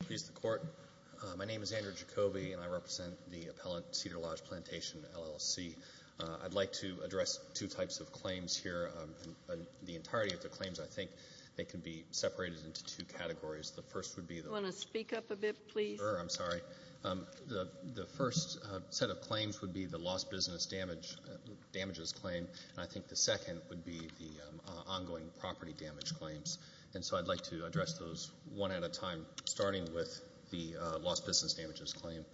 Please the court. My name is Andrew Jacoby and I represent the appellant Cedar Lodge Plantation, L.L.C. I'd like to address two types of claims here. The entirety of the claims, I think, they can be separated into two categories. The first would be... Do you want to speak up a bit, please? Sure, I'm sorry. The first set of claims would be the lost business damages claim. And I think the second would be the ongoing property damage claims. And so I'd like to address those one at a time, starting with the lost business damages claim.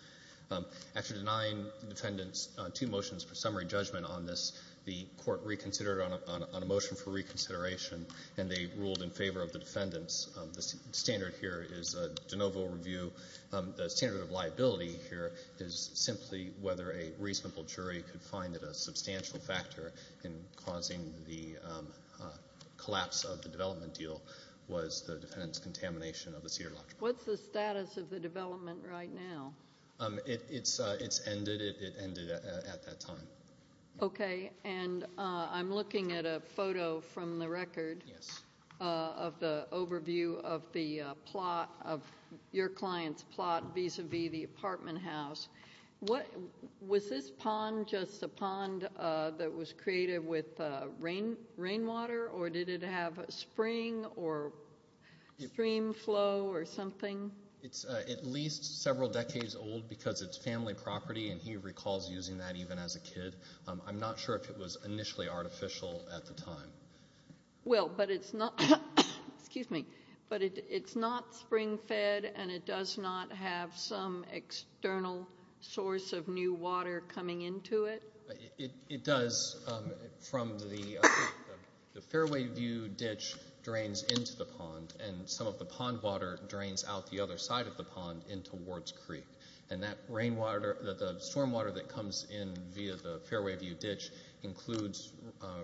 After denying defendants two motions for summary judgment on this, the court reconsidered on a motion for reconsideration, and they ruled in favor of the defendants. The standard here is a de novo review. The standard of liability here is simply whether a reasonable jury could find that a substantial factor in causing the collapse of the development deal was the defendant's contamination of the Cedar Lodge Plantation. What's the status of the development right now? It's ended. It ended at that time. Okay, and I'm looking at a photo from the record of the overview of your client's plot vis-a-vis the apartment house. Was this pond just a pond that was created with rainwater, or did it have spring or stream flow or something? It's at least several decades old because it's family property, and he recalls using that even as a kid. I'm not sure if it was initially artificial at the time. Well, but it's not spring-fed, and it does not have some external source of new water coming into it? It does from the Fairway View ditch drains into the pond, and some of the pond water drains out the other side of the pond into Ward's Creek. And that rainwater, the stormwater that comes in via the Fairway View ditch, includes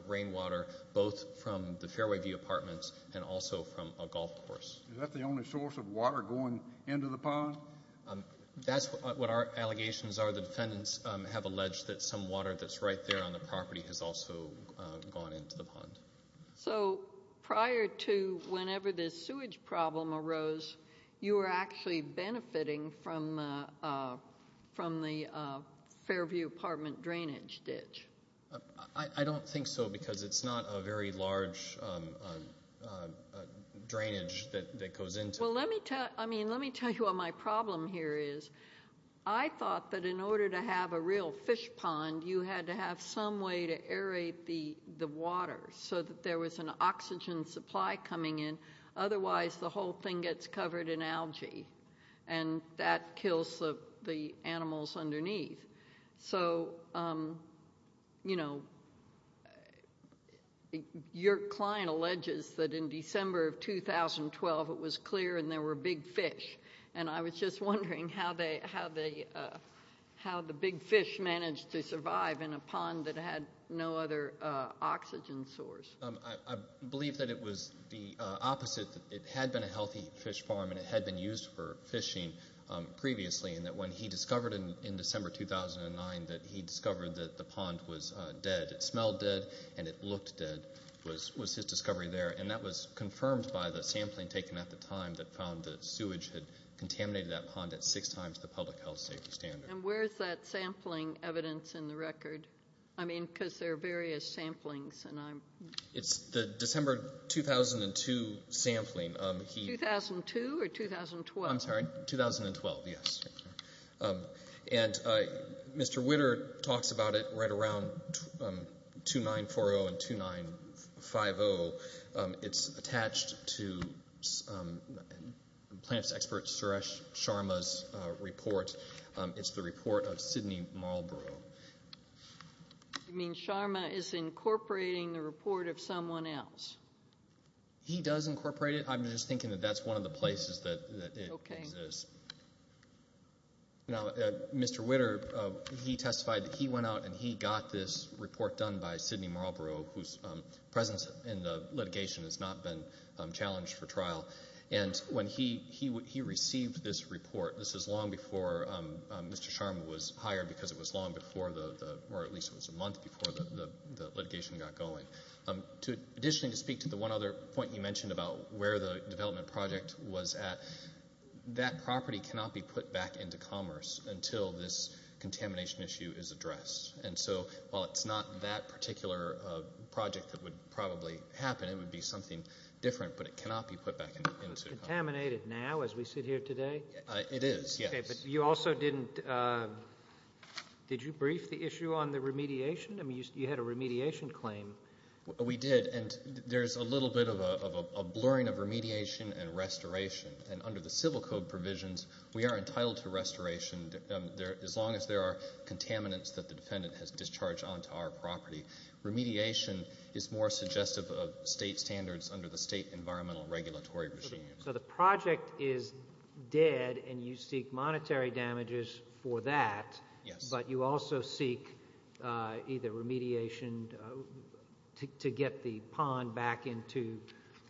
rainwater both from the Fairway View apartments and also from a golf course. Is that the only source of water going into the pond? That's what our allegations are. The defendants have alleged that some water that's right there on the property has also gone into the pond. So prior to whenever this sewage problem arose, you were actually benefiting from the Fairview apartment drainage ditch? I don't think so because it's not a very large drainage that goes into it. Well, let me tell you what my problem here is. I thought that in order to have a real fish pond, you had to have some way to aerate the water so that there was an oxygen supply coming in. Otherwise, the whole thing gets covered in algae, and that kills the animals underneath. So, you know, your client alleges that in December of 2012 it was clear and there were big fish, and I was just wondering how the big fish managed to survive in a pond that had no other oxygen source. I believe that it was the opposite. It had been a healthy fish farm, and it had been used for fishing previously, and that when he discovered in December 2009 that he discovered that the pond was dead, it smelled dead and it looked dead was his discovery there, and that was confirmed by the sampling taken at the time that found that sewage had contaminated that pond at six times the public health safety standard. And where is that sampling evidence in the record? I mean, because there are various samplings. It's the December 2002 sampling. 2002 or 2012? I'm sorry. 2012, yes. And Mr. Witter talks about it right around 2940 and 2950. It's attached to plants expert Suresh Sharma's report. It's the report of Sidney Marlborough. You mean Sharma is incorporating the report of someone else? He does incorporate it. I'm just thinking that that's one of the places that it exists. Now, Mr. Witter, he testified that he went out and he got this report done by Sidney Marlborough, whose presence in the litigation has not been challenged for trial. And when he received this report, this is long before Mr. Sharma was hired because it was long before the or at least it was a month before the litigation got going. Additionally, to speak to the one other point you mentioned about where the development project was at, that property cannot be put back into commerce until this contamination issue is addressed. And so while it's not that particular project that would probably happen, it would be something different, but it cannot be put back into commerce. It's contaminated now as we sit here today? It is, yes. Okay, but you also didn't, did you brief the issue on the remediation? I mean, you had a remediation claim. We did, and there's a little bit of a blurring of remediation and restoration. And under the civil code provisions, we are entitled to restoration as long as there are contaminants that the defendant has discharged onto our property. Remediation is more suggestive of state standards under the state environmental regulatory regime. So the project is dead and you seek monetary damages for that. Yes. But you also seek either remediation to get the pond back into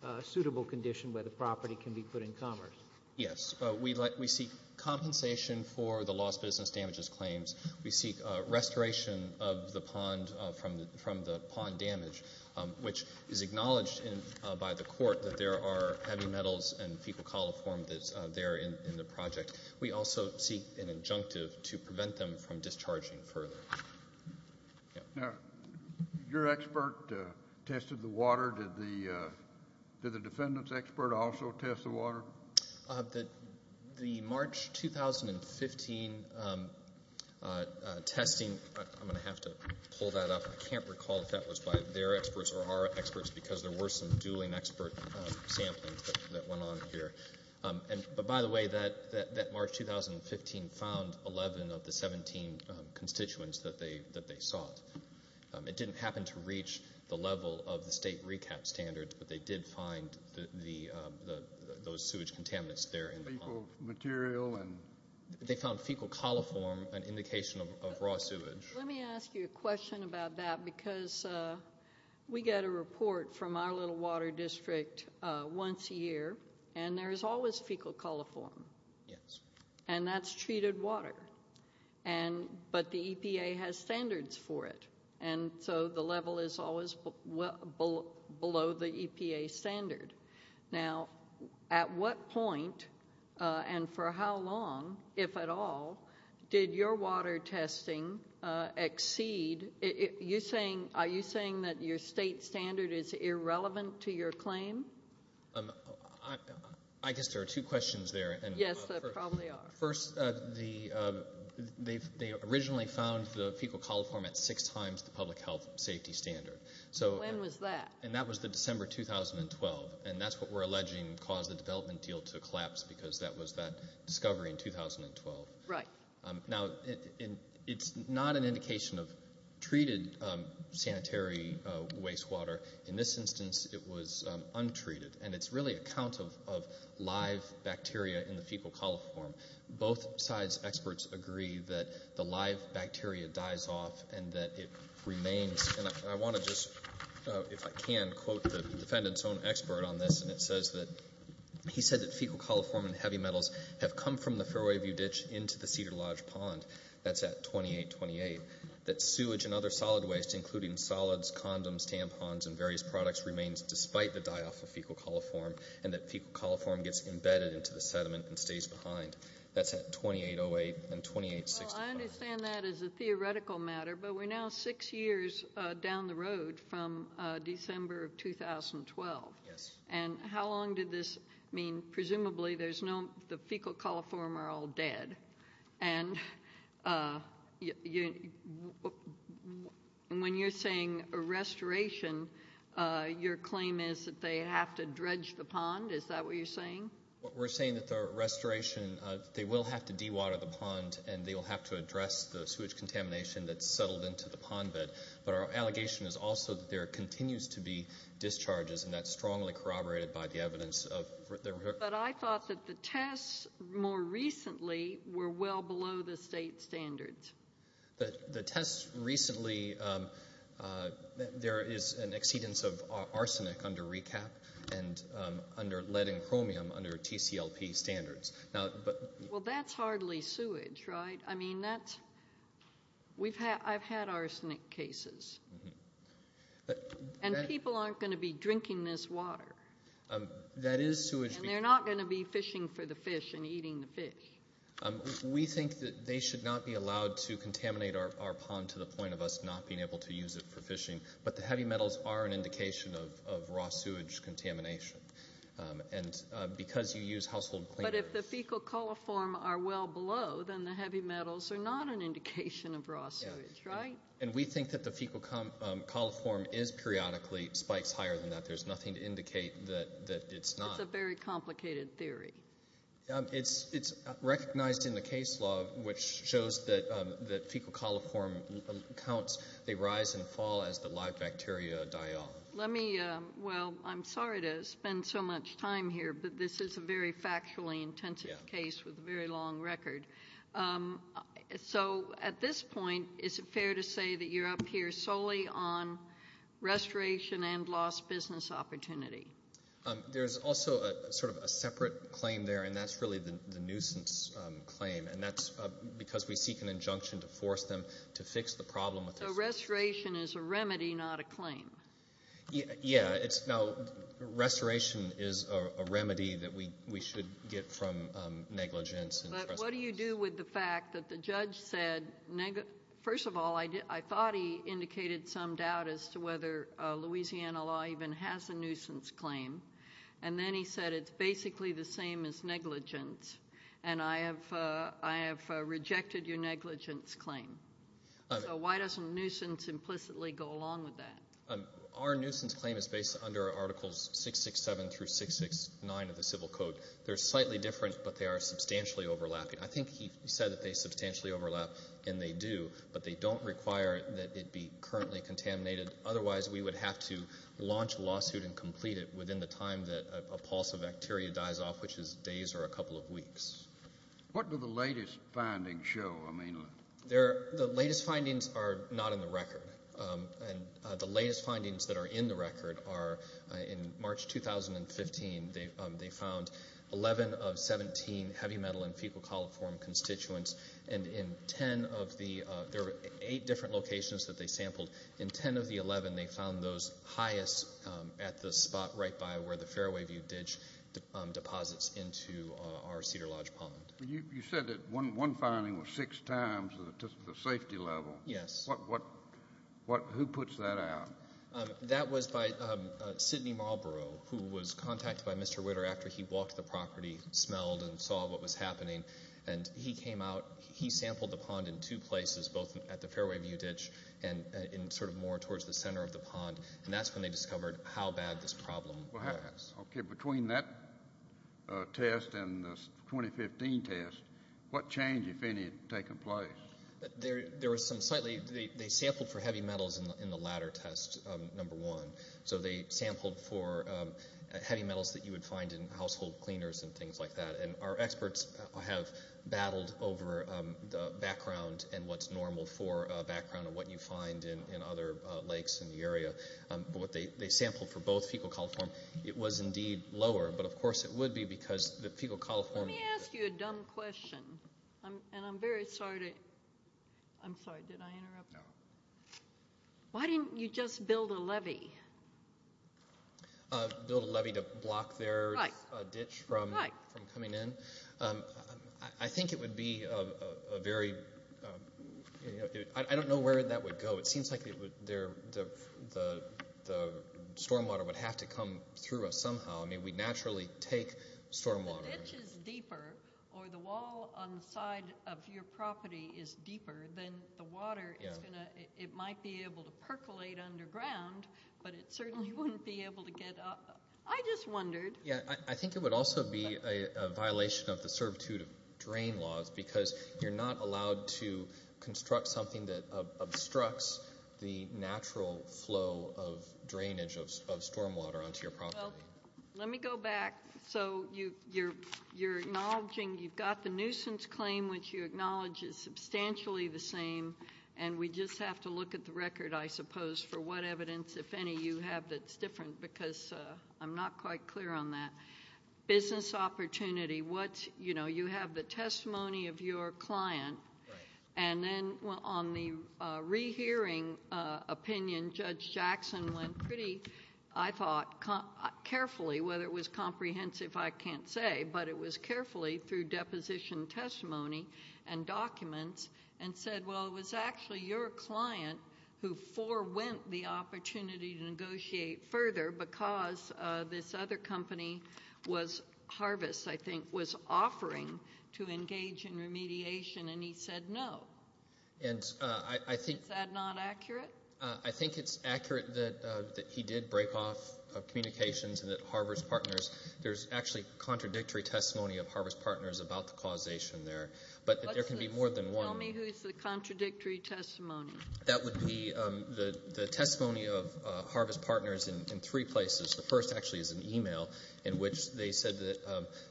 a suitable condition where the property can be put in commerce. Yes. We seek compensation for the lost business damages claims. We seek restoration of the pond from the pond damage, which is acknowledged by the court that there are heavy metals and fecal coliform that's there in the project. We also seek an injunctive to prevent them from discharging further. Now, your expert tested the water. Did the defendant's expert also test the water? The March 2015 testing, I'm going to have to pull that up. I can't recall if that was by their experts or our experts because there were some dueling expert sampling that went on here. But, by the way, that March 2015 found 11 of the 17 constituents that they sought. It didn't happen to reach the level of the state recap standards, but they did find those sewage contaminants there in the pond. Fecal material. They found fecal coliform, an indication of raw sewage. Let me ask you a question about that And there is always fecal coliform. Yes. And that's treated water. But the EPA has standards for it, and so the level is always below the EPA standard. Now, at what point and for how long, if at all, did your water testing exceed? Are you saying that your state standard is irrelevant to your claim? I guess there are two questions there. Yes, there probably are. First, they originally found the fecal coliform at six times the public health safety standard. When was that? And that was the December 2012, and that's what we're alleging caused the development deal to collapse because that was that discovery in 2012. Right. Now, it's not an indication of treated sanitary wastewater. In this instance, it was untreated, and it's really a count of live bacteria in the fecal coliform. Both sides' experts agree that the live bacteria dies off and that it remains. And I want to just, if I can, quote the defendant's own expert on this, and it says that he said that fecal coliform and heavy metals have come from the Fairway View ditch into the Cedar Lodge pond. That's at 2828. That sewage and other solid waste, including solids, condoms, tampons, and various products remains despite the die-off of fecal coliform, and that fecal coliform gets embedded into the sediment and stays behind. That's at 2808 and 2865. Well, I understand that as a theoretical matter, but we're now six years down the road from December of 2012. Yes. And how long did this mean? Presumably the fecal coliform are all dead. And when you're saying a restoration, your claim is that they have to dredge the pond. Is that what you're saying? We're saying that the restoration, they will have to dewater the pond, and they will have to address the sewage contamination that's settled into the pond bed. But our allegation is also that there continues to be discharges, and that's strongly corroborated by the evidence. But I thought that the tests more recently were well below the state standards. The tests recently, there is an exceedance of arsenic under RECAP and under lead and chromium under TCLP standards. Well, that's hardly sewage, right? I've had arsenic cases. And people aren't going to be drinking this water. That is sewage. And they're not going to be fishing for the fish and eating the fish. We think that they should not be allowed to contaminate our pond to the point of us not being able to use it for fishing. But the heavy metals are an indication of raw sewage contamination. And because you use household cleaners. But if the fecal coliform are well below, then the heavy metals are not an indication of raw sewage, right? And we think that the fecal coliform is periodically spikes higher than that. There's nothing to indicate that it's not. It's a very complicated theory. It's recognized in the case law, which shows that fecal coliform counts, they rise and fall as the live bacteria die off. Well, I'm sorry to spend so much time here, but this is a very factually intensive case with a very long record. So at this point, is it fair to say that you're up here solely on restoration and lost business opportunity? There's also sort of a separate claim there, and that's really the nuisance claim. And that's because we seek an injunction to force them to fix the problem. So restoration is a remedy, not a claim? Yeah. Restoration is a remedy that we should get from negligence. But what do you do with the fact that the judge said, first of all, I thought he indicated some doubt as to whether Louisiana law even has a nuisance claim. And then he said it's basically the same as negligence. And I have rejected your negligence claim. So why doesn't nuisance implicitly go along with that? Our nuisance claim is based under Articles 667 through 669 of the Civil Code. They're slightly different, but they are substantially overlapping. I think he said that they substantially overlap, and they do, but they don't require that it be currently contaminated. Otherwise, we would have to launch a lawsuit and complete it within the time that a pulse of bacteria dies off, which is days or a couple of weeks. What do the latest findings show, I mean? The latest findings are not in the record. And the latest findings that are in the record are, in March 2015, they found 11 of 17 heavy metal and fecal coliform constituents. And in 10 of the ‑‑ there were eight different locations that they sampled. In 10 of the 11, they found those highest at the spot right by where the You said that one finding was six times the safety level. Yes. Who puts that out? That was by Sidney Marlborough, who was contacted by Mr. Witter after he walked the property, smelled, and saw what was happening. And he came out. He sampled the pond in two places, both at the Fairway View Ditch and sort of more towards the center of the pond. And that's when they discovered how bad this problem was. Okay. Between that test and the 2015 test, what change, if any, had taken place? There was some slightly ‑‑ they sampled for heavy metals in the latter test, number one. So they sampled for heavy metals that you would find in household cleaners and things like that. And our experts have battled over the background and what's normal for a background of what you find in other lakes in the area. But they sampled for both fecal coliform. It was indeed lower, but, of course, it would be because the fecal coliform Let me ask you a dumb question. And I'm very sorry to ‑‑ I'm sorry. Did I interrupt? No. Why didn't you just build a levee? Build a levee to block their ditch from coming in? Right. I think it would be a very ‑‑ I don't know where that would go. It seems like the stormwater would have to come through us somehow. I mean, we'd naturally take stormwater. If the ditch is deeper or the wall on the side of your property is deeper, then the water is going to ‑‑ it might be able to percolate underground, but it certainly wouldn't be able to get up. I just wondered. Yeah, I think it would also be a violation of the servitude of drain laws because you're not allowed to construct something that obstructs the natural flow of drainage of stormwater onto your property. Well, let me go back. So you're acknowledging you've got the nuisance claim, which you acknowledge is substantially the same, and we just have to look at the record, I suppose, for what evidence, if any, you have that's different because I'm not quite clear on that. Business opportunity, you have the testimony of your client, and then on the rehearing opinion, Judge Jackson went pretty, I thought, carefully, whether it was comprehensive, I can't say, but it was carefully through deposition testimony and documents, and said, well, it was actually your client who forewent the opportunity to negotiate further because this other company, Harvest, I think, was offering to engage in remediation, and he said no. Is that not accurate? I think it's accurate that he did break off communications and that Harvest Partners, there's actually contradictory testimony of Harvest Partners about the causation there, but there can be more than one. Tell me who's the contradictory testimony. That would be the testimony of Harvest Partners in three places. The first, actually, is an e-mail in which they said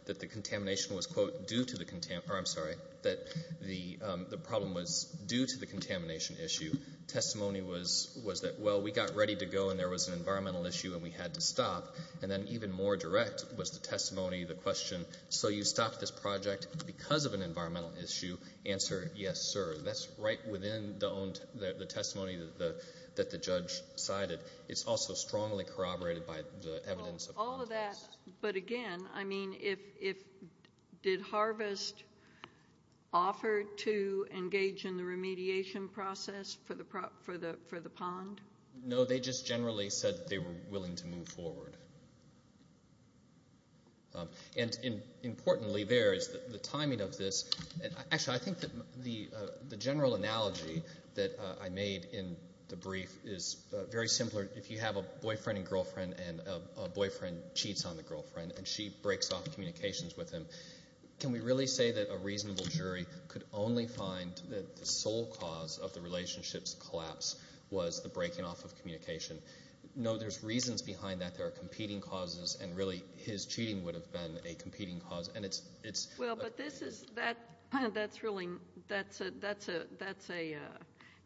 that the contamination was, quote, due to the contamination, or I'm sorry, that the problem was due to the contamination issue. Testimony was that, well, we got ready to go, and there was an environmental issue, and we had to stop, and then even more direct was the testimony, the question, so you stopped this project because of an environmental issue? Yes, sir. That's right within the testimony that the judge cited. It's also strongly corroborated by the evidence. All of that, but again, I mean, did Harvest offer to engage in the remediation process for the pond? No, they just generally said they were willing to move forward. And importantly there is the timing of this. Actually, I think that the general analogy that I made in the brief is very similar. If you have a boyfriend and girlfriend, and a boyfriend cheats on the girlfriend, and she breaks off communications with him, can we really say that a reasonable jury could only find that the sole cause of the relationship's collapse was the breaking off of communication? No, there's reasons behind that. There are competing causes, and really his cheating would have been a competing cause. Well, but that's a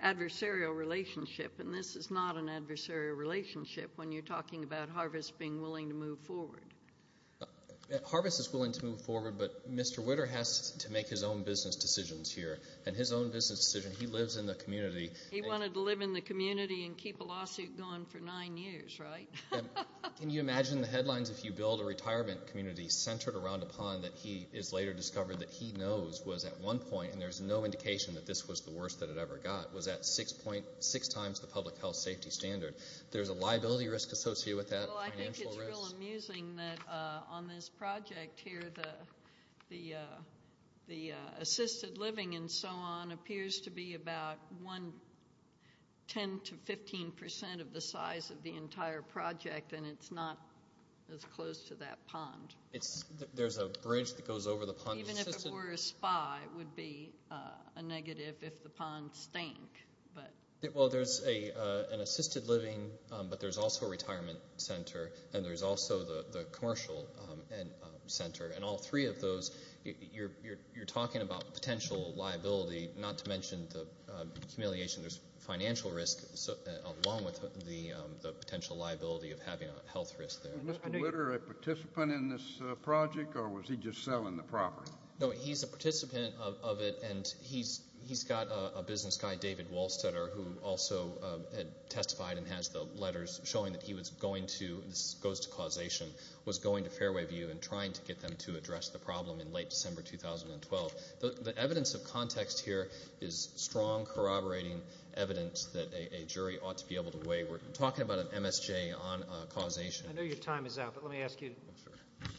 adversarial relationship, and this is not an adversarial relationship when you're talking about Harvest being willing to move forward. Harvest is willing to move forward, but Mr. Witter has to make his own business decisions here, and his own business decision, he lives in the community. He wanted to live in the community and keep a lawsuit going for nine years, right? Can you imagine the headlines if you build a retirement community centered around a pond that he has later discovered that he knows was at one point, and there's no indication that this was the worst that it ever got, was at six times the public health safety standard. There's a liability risk associated with that, financial risk. Well, I think it's real amusing that on this project here, the assisted living and so on appears to be about 10% to 15% of the size of the entire project, and it's not as close to that pond. There's a bridge that goes over the pond. Even if it were a spy, it would be a negative if the pond stank. Well, there's an assisted living, but there's also a retirement center, and there's also the commercial center, and all three of those, you're talking about potential liability, not to mention the humiliation. There's financial risk along with the potential liability of having a health risk there. Was Mr. Litter a participant in this project, or was he just selling the property? No, he's a participant of it, and he's got a business guy, David Wolstetter, who also had testified and has the letters showing that he was going to, this goes to causation, was going to Fairway View and trying to get them to address the problem in late December 2012. The evidence of context here is strong corroborating evidence that a jury ought to be able to weigh. We're talking about an MSJ on causation. I know your time is out, but let me ask you,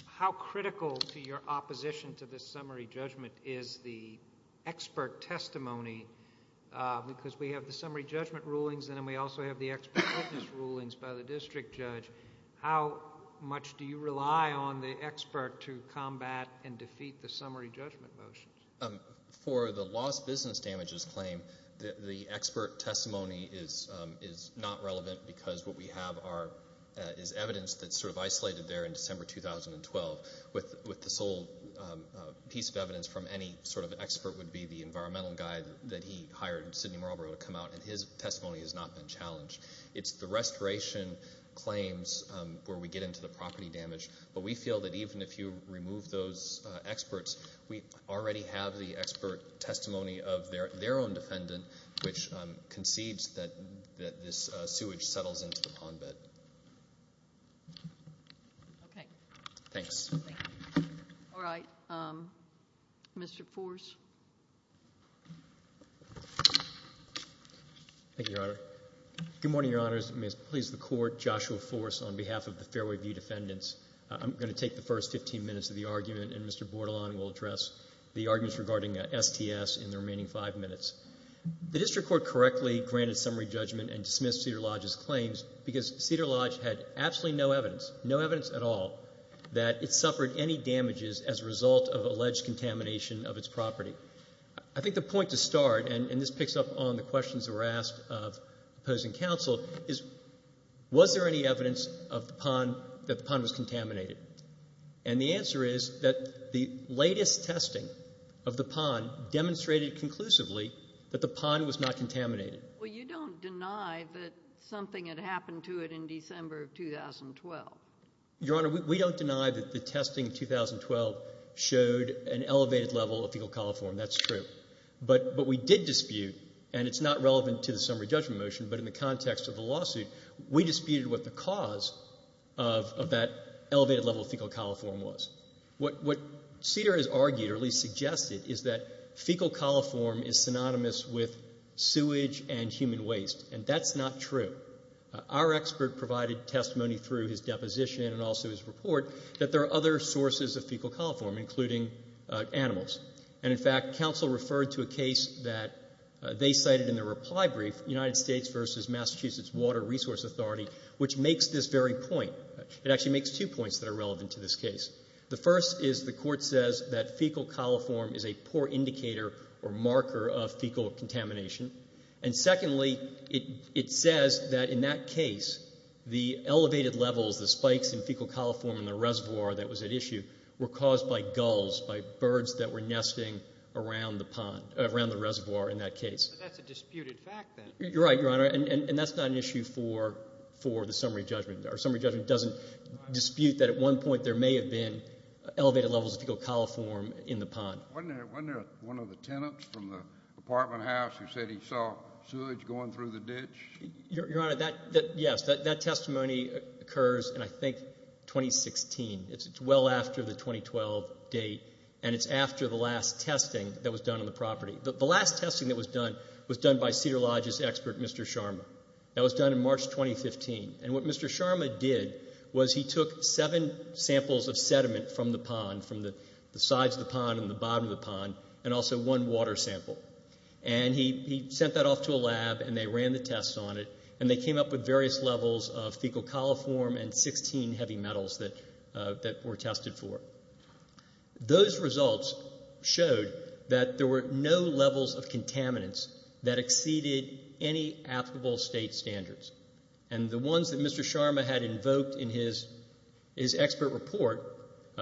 how critical to your opposition to this summary judgment is the expert testimony? Because we have the summary judgment rulings, and then we also have the expert witness rulings by the district judge. How much do you rely on the expert to combat and defeat the summary judgment motions? For the lost business damages claim, the expert testimony is not relevant because what we have is evidence that's sort of isolated there in December 2012, with the sole piece of evidence from any sort of expert would be the environmental guy that he hired, Sidney Marlborough, to come out, and his testimony has not been challenged. It's the restoration claims where we get into the property damage. But we feel that even if you remove those experts, we already have the expert testimony of their own defendant, which concedes that this sewage settles into the pond bed. Okay. Thanks. All right. Mr. Fors? Thank you, Your Honor. Good morning, Your Honors. May it please the Court, Joshua Fors on behalf of the Fairway View Defendants. I'm going to take the first 15 minutes of the argument, and Mr. Bordelon will address the arguments regarding STS in the remaining five minutes. The district court correctly granted summary judgment and dismissed Cedar Lodge's claims because Cedar Lodge had absolutely no evidence, no evidence at all, that it suffered any damages as a result of alleged contamination of its property. I think the point to start, and this picks up on the questions that were asked of opposing counsel, is was there any evidence of the pond that the pond was contaminated? And the answer is that the latest testing of the pond demonstrated conclusively that the pond was not contaminated. Well, you don't deny that something had happened to it in December of 2012. Your Honor, we don't deny that the testing in 2012 showed an elevated level of fecal coliform. That's true. But we did dispute, and it's not relevant to the summary judgment motion, but in the context of the lawsuit, we disputed what the cause of that elevated level of fecal coliform was. What Cedar has argued, or at least suggested, is that fecal coliform is synonymous with sewage and human waste, and that's not true. Our expert provided testimony through his deposition and also his report that there are other sources of fecal coliform, including animals. And, in fact, counsel referred to a case that they cited in their reply brief, United States v. Massachusetts Water Resource Authority, which makes this very point. It actually makes two points that are relevant to this case. The first is the court says that fecal coliform is a poor indicator or marker of fecal contamination. And, secondly, it says that, in that case, the elevated levels, the spikes in fecal coliform in the reservoir that was at issue were caused by gulls, by birds that were nesting around the pond, around the reservoir in that case. But that's a disputed fact, then. You're right, Your Honor, and that's not an issue for the summary judgment. Our summary judgment doesn't dispute that, at one point, there may have been elevated levels of fecal coliform in the pond. Wasn't there one of the tenants from the apartment house who said he saw sewage going through the ditch? Your Honor, yes, that testimony occurs in, I think, 2016. It's well after the 2012 date, and it's after the last testing that was done on the property. The last testing that was done was done by Cedar Lodge's expert, Mr. Sharma. That was done in March 2015. And what Mr. Sharma did was he took seven samples of sediment from the pond, from the sides of the pond and the bottom of the pond, and also one water sample. And he sent that off to a lab, and they ran the tests on it, and they came up with various levels of fecal coliform and 16 heavy metals that were tested for. Those results showed that there were no levels of contaminants that exceeded any applicable state standards. And the ones that Mr. Sharma had invoked in his expert report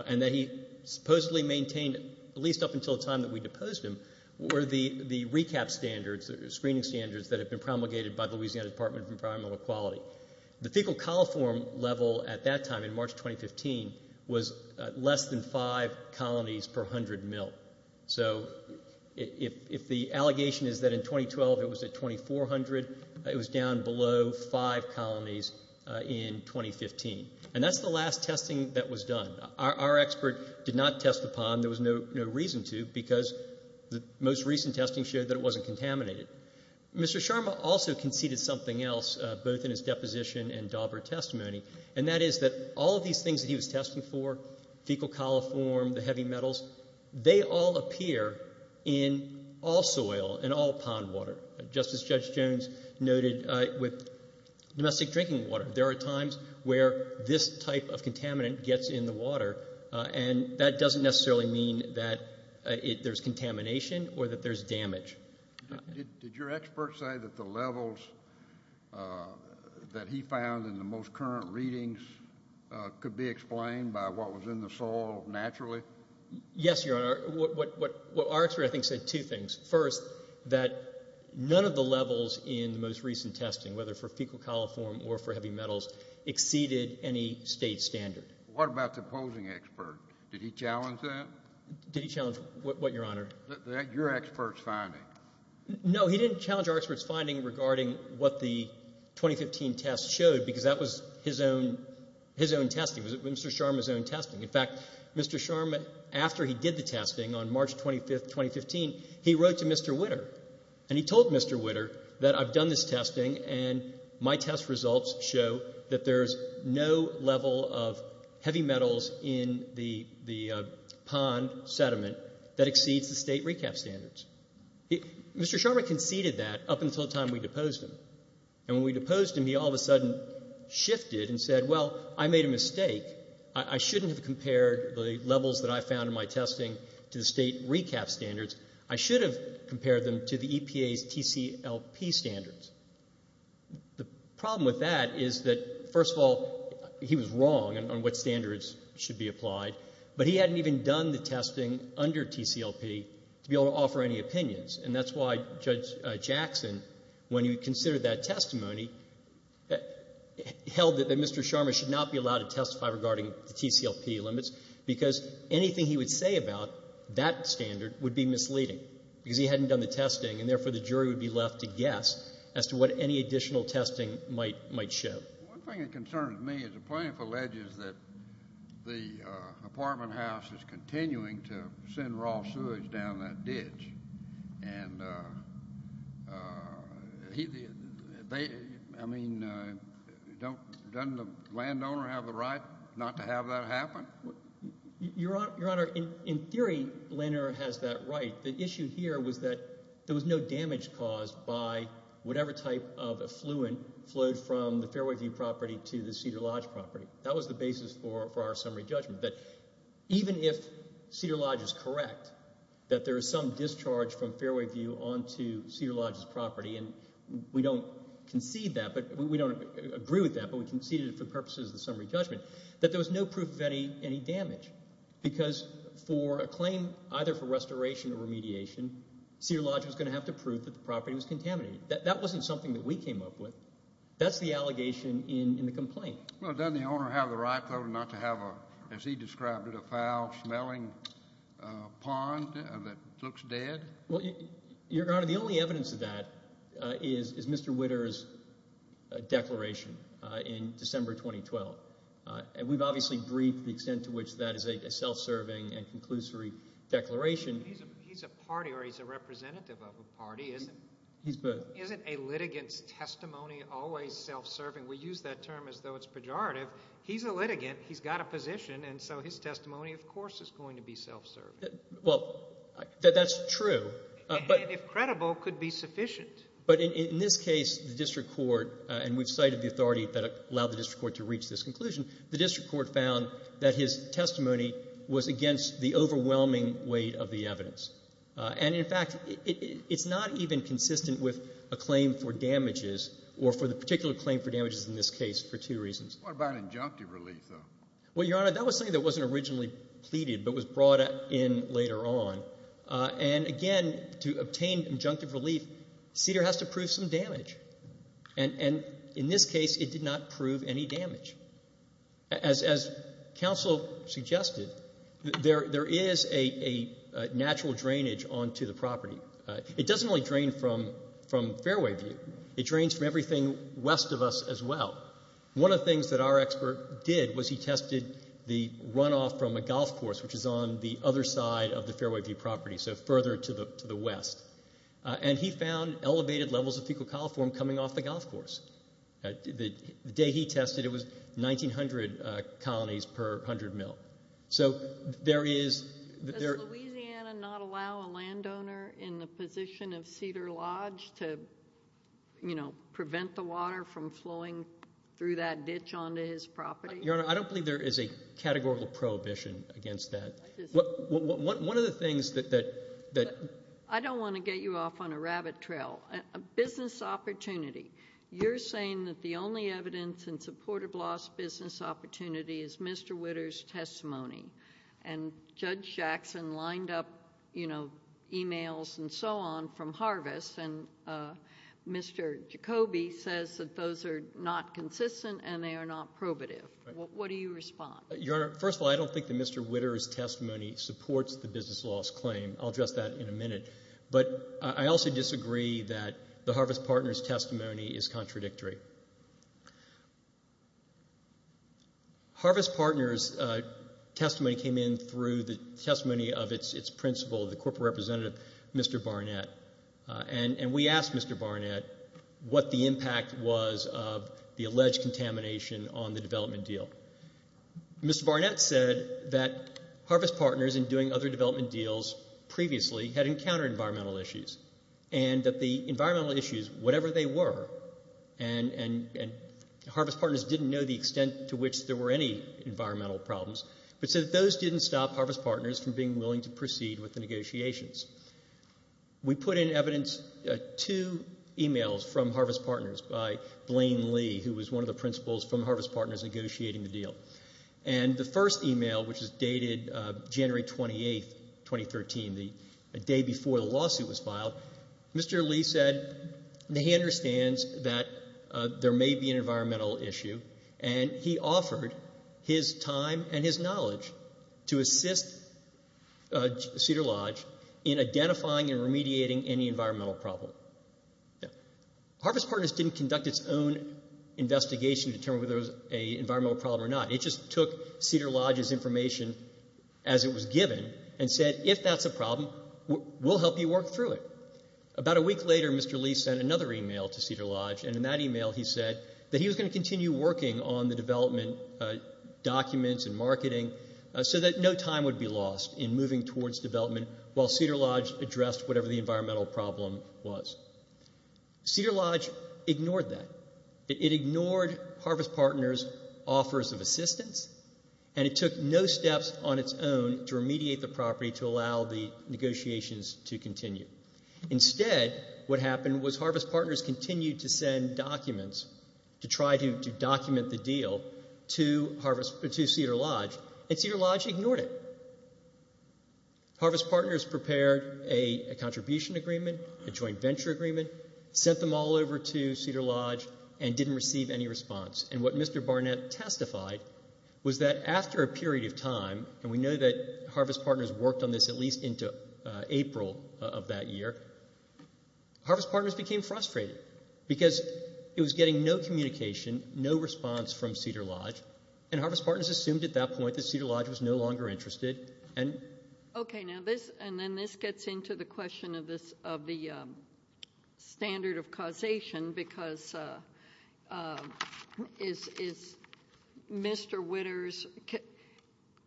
and that he supposedly maintained at least up until the time that we deposed him were the recap standards, the screening standards, that had been promulgated by the Louisiana Department of Environmental Equality. The fecal coliform level at that time in March 2015 was less than five colonies per hundred mil. So if the allegation is that in 2012 it was at 2,400, it was down below five colonies in 2015. And that's the last testing that was done. Our expert did not test the pond. There was no reason to because the most recent testing showed that it wasn't contaminated. Mr. Sharma also conceded something else, both in his deposition and Dauber testimony, and that is that all of these things that he was testing for, fecal coliform, the heavy metals, they all appear in all soil, in all pond water, just as Judge Jones noted with domestic drinking water. There are times where this type of contaminant gets in the water, and that doesn't necessarily mean that there's contamination or that there's damage. Did your expert say that the levels that he found in the most current readings could be explained by what was in the soil naturally? Yes, Your Honor. Our expert, I think, said two things. First, that none of the levels in the most recent testing, whether for fecal coliform or for heavy metals, exceeded any state standard. What about the opposing expert? Did he challenge that? Did he challenge what, Your Honor? Your expert's finding. No, he didn't challenge our expert's finding regarding what the 2015 test showed because that was his own testing. It was Mr. Sharma's own testing. In fact, Mr. Sharma, after he did the testing on March 25, 2015, he wrote to Mr. Witter, and he told Mr. Witter that I've done this testing and my test results show that there's no level of heavy metals in the pond sediment that exceeds the state recap standards. Mr. Sharma conceded that up until the time we deposed him. And when we deposed him, he all of a sudden shifted and said, well, I made a mistake. I shouldn't have compared the levels that I found in my testing to the state recap standards. I should have compared them to the EPA's TCLP standards. The problem with that is that, first of all, he was wrong on what standards should be applied, but he hadn't even done the testing under TCLP to be able to offer any opinions, and that's why Judge Jackson, when he considered that testimony, held that Mr. Sharma should not be allowed to testify regarding the TCLP limits because anything he would say about that standard would be misleading because he hadn't done the testing and, therefore, the jury would be left to guess as to what any additional testing might show. One thing that concerns me is the plaintiff alleges that the apartment house is continuing to send raw sewage down that ditch. And, I mean, doesn't the landowner have the right not to have that happen? Your Honor, in theory, the landowner has that right. The issue here was that there was no damage caused by whatever type of effluent flowed from the Fairway View property to the Cedar Lodge property. That was the basis for our summary judgment, that even if Cedar Lodge is correct, that there is some discharge from Fairway View onto Cedar Lodge's property, and we don't concede that, we don't agree with that, but we conceded it for purposes of the summary judgment, that there was no proof of any damage because for a claim either for restoration or remediation, Cedar Lodge was going to have to prove that the property was contaminated. That wasn't something that we came up with. That's the allegation in the complaint. Well, doesn't the owner have the right, though, not to have a, as he described it, a foul-smelling pond that looks dead? Well, Your Honor, the only evidence of that is Mr. Witter's declaration in December 2012. We've obviously briefed the extent to which that is a self-serving and conclusory declaration. He's a party, or he's a representative of a party, isn't he? He's both. Isn't a litigant's testimony always self-serving? We use that term as though it's pejorative. He's a litigant. He's got a position, and so his testimony, of course, is going to be self-serving. Well, that's true. And if credible, could be sufficient. But in this case, the district court, and we've cited the authority that allowed the district court to reach this conclusion, the district court found that his testimony was against the overwhelming weight of the evidence. And, in fact, it's not even consistent with a claim for damages or for the particular claim for damages in this case for two reasons. What about injunctive relief, though? Well, Your Honor, that was something that wasn't originally pleaded but was brought in later on. And, again, to obtain injunctive relief, CDER has to prove some damage. And in this case, it did not prove any damage. As counsel suggested, there is a natural drainage onto the property. It doesn't only drain from Fairway View. It drains from everything west of us as well. One of the things that our expert did was he tested the runoff from a golf course, which is on the other side of the Fairway View property, so further to the west. And he found elevated levels of fecal coliform coming off the golf course. The day he tested, it was 1,900 colonies per 100 mil. So there is— Does Louisiana not allow a landowner in the position of CDER Lodge to prevent the water from flowing through that ditch onto his property? Your Honor, I don't believe there is a categorical prohibition against that. One of the things that— I don't want to get you off on a rabbit trail. A business opportunity. You're saying that the only evidence in support of loss business opportunity is Mr. Witter's testimony. And Judge Jackson lined up, you know, e-mails and so on from Harvest, and Mr. Jacoby says that those are not consistent and they are not probative. What do you respond? Your Honor, first of all, I don't think that Mr. Witter's testimony supports the business loss claim. I'll address that in a minute. But I also disagree that the Harvest Partners' testimony is contradictory. Harvest Partners' testimony came in through the testimony of its principal, the corporate representative, Mr. Barnett. And we asked Mr. Barnett what the impact was of the alleged contamination on the development deal. Mr. Barnett said that Harvest Partners, in doing other development deals previously, had encountered environmental issues and that the environmental issues, whatever they were, and Harvest Partners didn't know the extent to which there were any environmental problems, but said that those didn't stop Harvest Partners from being willing to proceed with the negotiations. We put in evidence two e-mails from Harvest Partners by Blaine Lee, who was one of the principals from Harvest Partners negotiating the deal. And the first e-mail, which is dated January 28, 2013, the day before the lawsuit was filed, Mr. Lee said that he understands that there may be an environmental issue, and he offered his time and his knowledge to assist Cedar Lodge in identifying and remediating any environmental problem. Harvest Partners didn't conduct its own investigation to determine whether there was an environmental problem or not. It just took Cedar Lodge's information as it was given and said, if that's a problem, we'll help you work through it. About a week later, Mr. Lee sent another e-mail to Cedar Lodge, and in that e-mail he said that he was going to continue working on the development documents and marketing so that no time would be lost in moving towards development while Cedar Lodge addressed whatever the environmental problem was. Cedar Lodge ignored that. It ignored Harvest Partners' offers of assistance, and it took no steps on its own to remediate the property to allow the negotiations to continue. Instead, what happened was Harvest Partners continued to send documents to try to document the deal to Cedar Lodge, and Cedar Lodge ignored it. Harvest Partners prepared a contribution agreement, a joint venture agreement, sent them all over to Cedar Lodge, and didn't receive any response. And what Mr. Barnett testified was that after a period of time, and we know that Harvest Partners worked on this at least into April of that year, Harvest Partners became frustrated because it was getting no communication, no response from Cedar Lodge, and Harvest Partners assumed at that point that Cedar Lodge was no longer interested. Okay, and then this gets into the question of the standard of causation, because does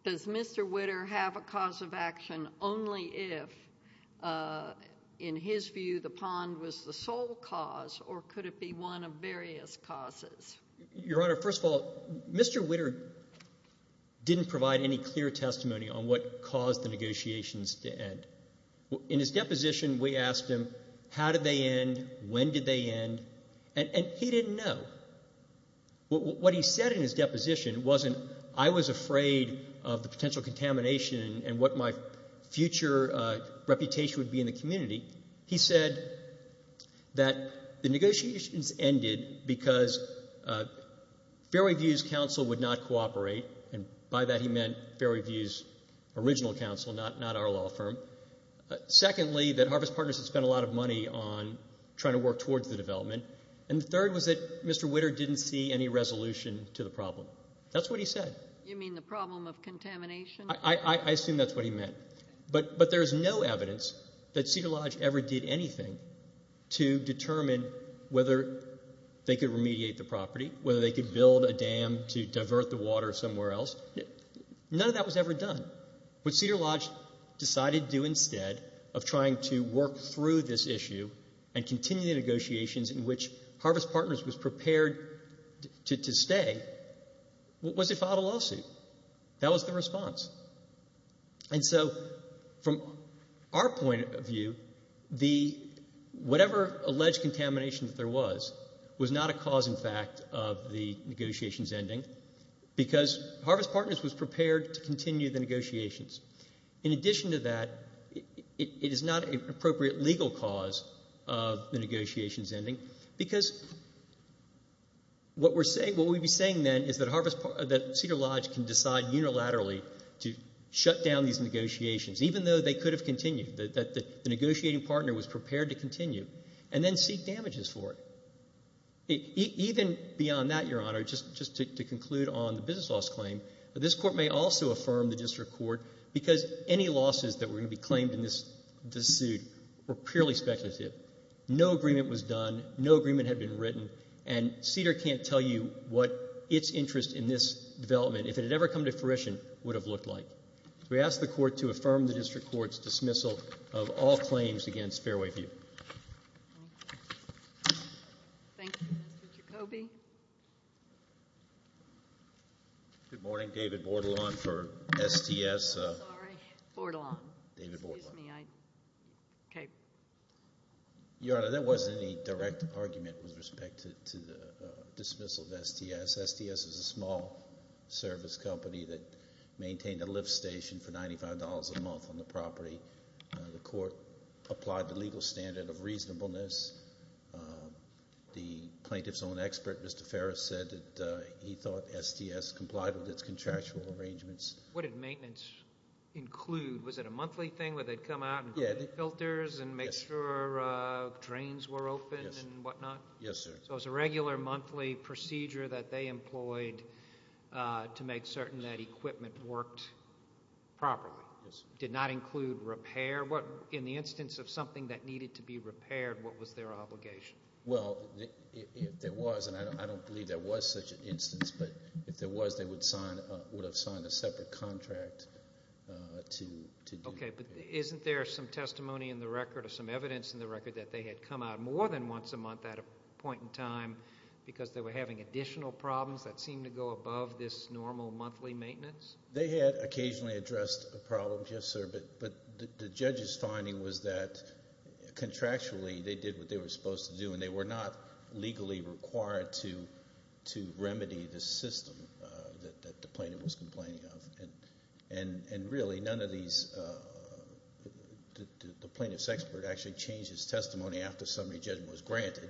Mr. Witter have a cause of action only if, in his view, the pond was the sole cause, or could it be one of various causes? Your Honor, first of all, Mr. Witter didn't provide any clear testimony on what caused the negotiations to end. In his deposition, we asked him how did they end, when did they end, and he didn't know. What he said in his deposition wasn't, I was afraid of the potential contamination and what my future reputation would be in the community. He said that the negotiations ended because Fairview's counsel would not cooperate, and by that he meant Fairview's original counsel, not our law firm. Secondly, that Harvest Partners had spent a lot of money on trying to work towards the development. And third was that Mr. Witter didn't see any resolution to the problem. That's what he said. You mean the problem of contamination? I assume that's what he meant. But there's no evidence that Cedar Lodge ever did anything to determine whether they could remediate the property, whether they could build a dam to divert the water somewhere else. None of that was ever done. What Cedar Lodge decided to do instead of trying to work through this issue and continue the negotiations in which Harvest Partners was prepared to stay was they filed a lawsuit. That was the response. And so from our point of view, whatever alleged contamination that there was was not a cause in fact of the negotiations ending because Harvest Partners was prepared to continue the negotiations. In addition to that, it is not an appropriate legal cause of the negotiations ending because what we'd be saying then is that Cedar Lodge can decide unilaterally to shut down these negotiations even though they could have continued, that the negotiating partner was prepared to continue, and then seek damages for it. Even beyond that, Your Honor, just to conclude on the business loss claim, this Court may also affirm the district court because any losses that were going to be claimed in this suit were purely speculative. No agreement was done. No agreement had been written, and Cedar can't tell you what its interest in this development, if it had ever come to fruition, would have looked like. We ask the Court to affirm the district court's dismissal of all claims against Fairway View. Thank you, Mr. Jacoby. Good morning. David Bordelon for STS. Sorry, Bordelon. David Bordelon. Excuse me. Your Honor, there wasn't any direct argument with respect to the dismissal of STS. STS is a small service company that maintained a lift station for $95 a month on the property. The Court applied the legal standard of reasonableness. The plaintiff's own expert, Mr. Ferris, said that he thought STS complied with its contractual arrangements. What did maintenance include? Was it a monthly thing where they'd come out and put in filters and make sure trains were open and whatnot? Yes, sir. So it was a regular monthly procedure that they employed to make certain that equipment worked properly? Yes, sir. Did not include repair? In the instance of something that needed to be repaired, what was their obligation? Well, if there was, and I don't believe there was such an instance, but if there was, they would have signed a separate contract to do that. Okay, but isn't there some testimony in the record or some evidence in the record that they had come out more than once a month at a point in time because they were having additional problems that seemed to go above this normal monthly maintenance? They had occasionally addressed a problem, yes, sir, but the judge's finding was that contractually they did what they were supposed to do and they were not legally required to remedy the system that the plaintiff was complaining of. And really none of these, the plaintiff's expert actually changed his testimony after summary judgment was granted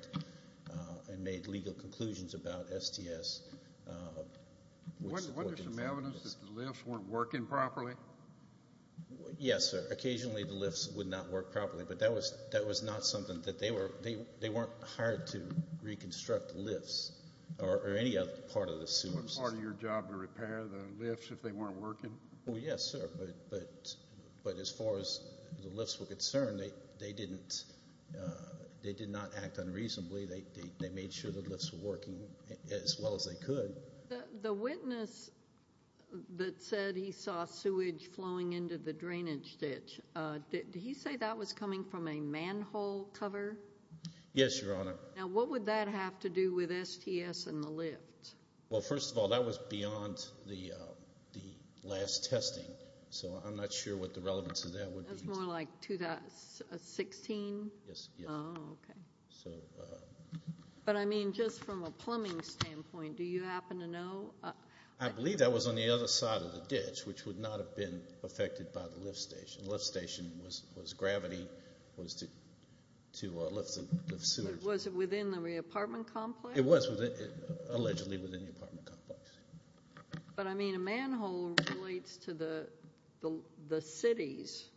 and made legal conclusions about STS. Wasn't there some evidence that the lifts weren't working properly? Yes, sir. Occasionally the lifts would not work properly, but that was not something that they were, they weren't hired to reconstruct the lifts or any other part of the system. Wasn't part of your job to repair the lifts if they weren't working? Well, yes, sir, but as far as the lifts were concerned, they did not act unreasonably. They made sure the lifts were working as well as they could. The witness that said he saw sewage flowing into the drainage ditch, did he say that was coming from a manhole cover? Yes, Your Honor. Now what would that have to do with STS and the lift? Well, first of all, that was beyond the last testing, so I'm not sure what the relevance of that would be. That was more like 2016? Yes. Oh, okay. But, I mean, just from a plumbing standpoint, do you happen to know? I believe that was on the other side of the ditch, which would not have been affected by the lift station. The lift station was gravity was to lift the sewage. Was it within the apartment complex? It was allegedly within the apartment complex. But, I mean, a manhole relates to the city's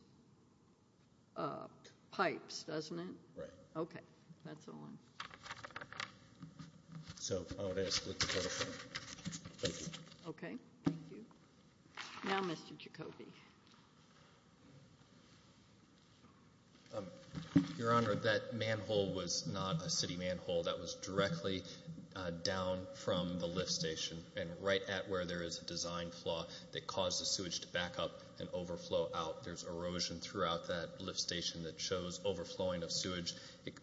pipes, doesn't it? Right. Okay. That's the one. So I would ask that you clarify. Thank you. Okay. Thank you. Now Mr. Jacoby. Your Honor, that manhole was not a city manhole. That was directly down from the lift station and right at where there is a design flaw that caused the sewage to back up and overflow out. There's erosion throughout that lift station that shows overflowing of sewage.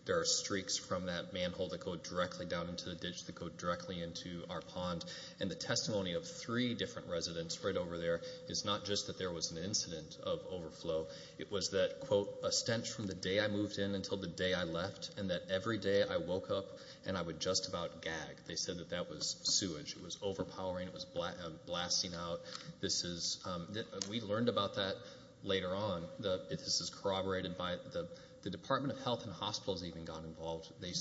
There are streaks from that manhole that go directly down into the ditch that go directly into our pond. And the testimony of three different residents right over there is not just that there was an incident of overflow. It was that, quote, a stench from the day I moved in until the day I left and that every day I woke up and I would just about gag. They said that that was sewage. It was overpowering. It was blasting out. We learned about that later on. This is corroborated by the Department of Health and Hospitals even got involved. They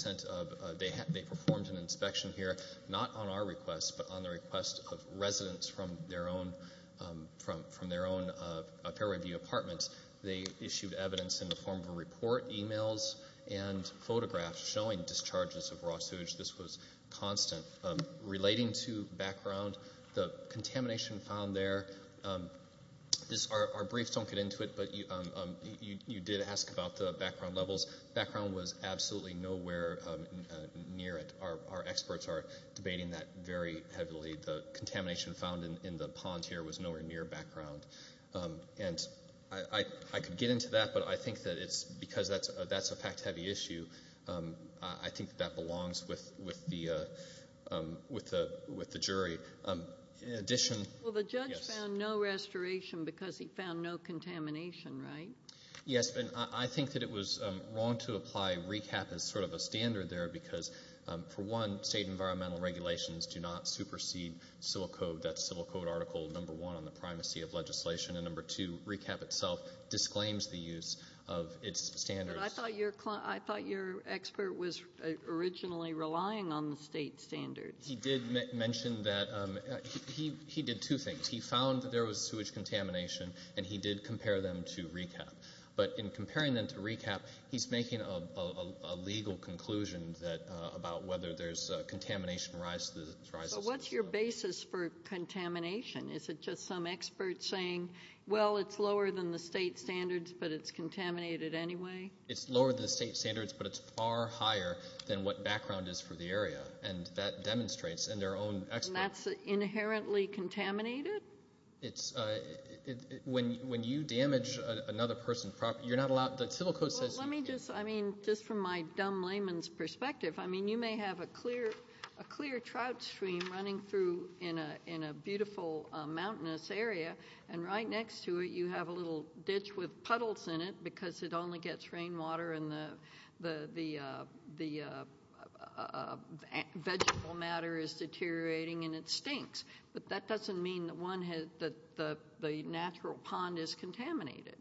performed an inspection here not on our request but on the request of residents from their own Fairway View apartments. They issued evidence in the form of a report, e-mails, and photographs showing discharges of raw sewage. This was constant. Relating to background, the contamination found there, our briefs don't get into it, but you did ask about the background levels. Background was absolutely nowhere near it. Our experts are debating that very heavily. The contamination found in the pond here was nowhere near background. And I could get into that, but I think that it's because that's a fact-heavy issue. I think that belongs with the jury. Well, the judge found no restoration because he found no contamination, right? Yes, and I think that it was wrong to apply RECAP as sort of a standard there because, for one, state environmental regulations do not supersede civil code. That's civil code article number one on the primacy of legislation, and number two, RECAP itself disclaims the use of its standards. But I thought your expert was originally relying on the state standards. He did mention that. He did two things. He found that there was sewage contamination, and he did compare them to RECAP. But in comparing them to RECAP, he's making a legal conclusion about whether there's contamination rises. But what's your basis for contamination? Is it just some expert saying, well, it's lower than the state standards, but it's contaminated anyway? It's lower than the state standards, but it's far higher than what background is for the area. And that demonstrates in their own expert. And that's inherently contaminated? When you damage another person's property, you're not allowed to ‑‑ Well, let me just, I mean, just from my dumb layman's perspective, I mean, you may have a clear trout stream running through in a beautiful mountainous area, and right next to it you have a little ditch with puddles in it because it only gets rainwater and the vegetable matter is deteriorating and it stinks. But that doesn't mean that the natural pond is contaminated.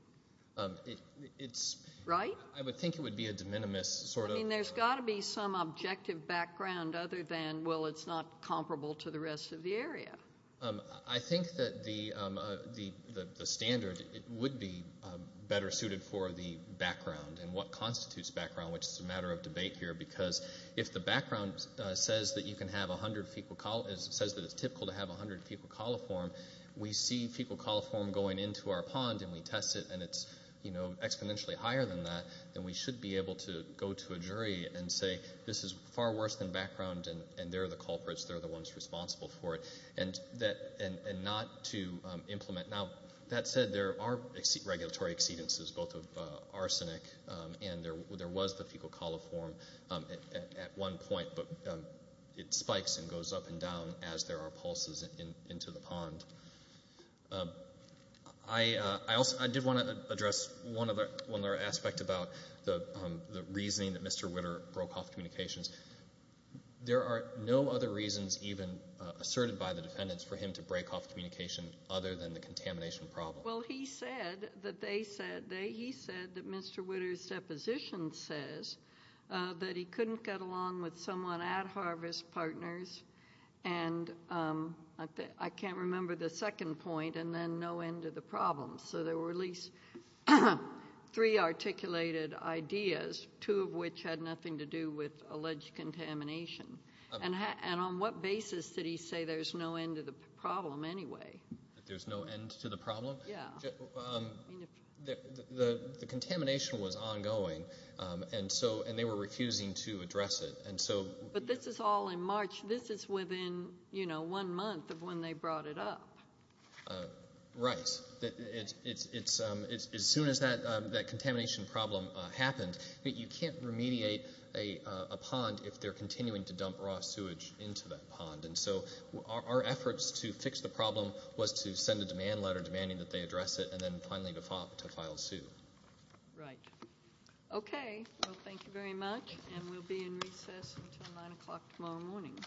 Right? I would think it would be a de minimis sort of thing. I mean, there's got to be some objective background other than, well, it's not comparable to the rest of the area. I think that the standard would be better suited for the background and what constitutes background, which is a matter of debate here, because if the background says that you can have 100 fecal coliform, says that it's typical to have 100 fecal coliform, we see fecal coliform going into our pond and we test it and it's exponentially higher than that, then we should be able to go to a jury and say this is far worse than background and they're the culprits, they're the ones responsible for it, and not to implement. Now, that said, there are regulatory exceedances, both of arsenic and there was the fecal coliform at one point, but it spikes and goes up and down as there are pulses into the pond. I did want to address one other aspect about the reasoning that Mr. Witter broke off communications. There are no other reasons even asserted by the defendants for him to break off communication other than the contamination problem. Well, he said that they said, he said that Mr. Witter's deposition says that he couldn't get along with someone at Harvest Partners and I can't remember the second point, and then no end to the problem. So there were at least three articulated ideas, two of which had nothing to do with alleged contamination. And on what basis did he say there's no end to the problem anyway? That there's no end to the problem? Yeah. The contamination was ongoing and they were refusing to address it. But this is all in March. This is within one month of when they brought it up. Right. As soon as that contamination problem happened, you can't remediate a pond if they're continuing to dump raw sewage into that pond. And so our efforts to fix the problem was to send a demand letter demanding that they address it and then finally to file sue. Right. Okay. Well, thank you very much, and we'll be in recess until 9 o'clock tomorrow morning.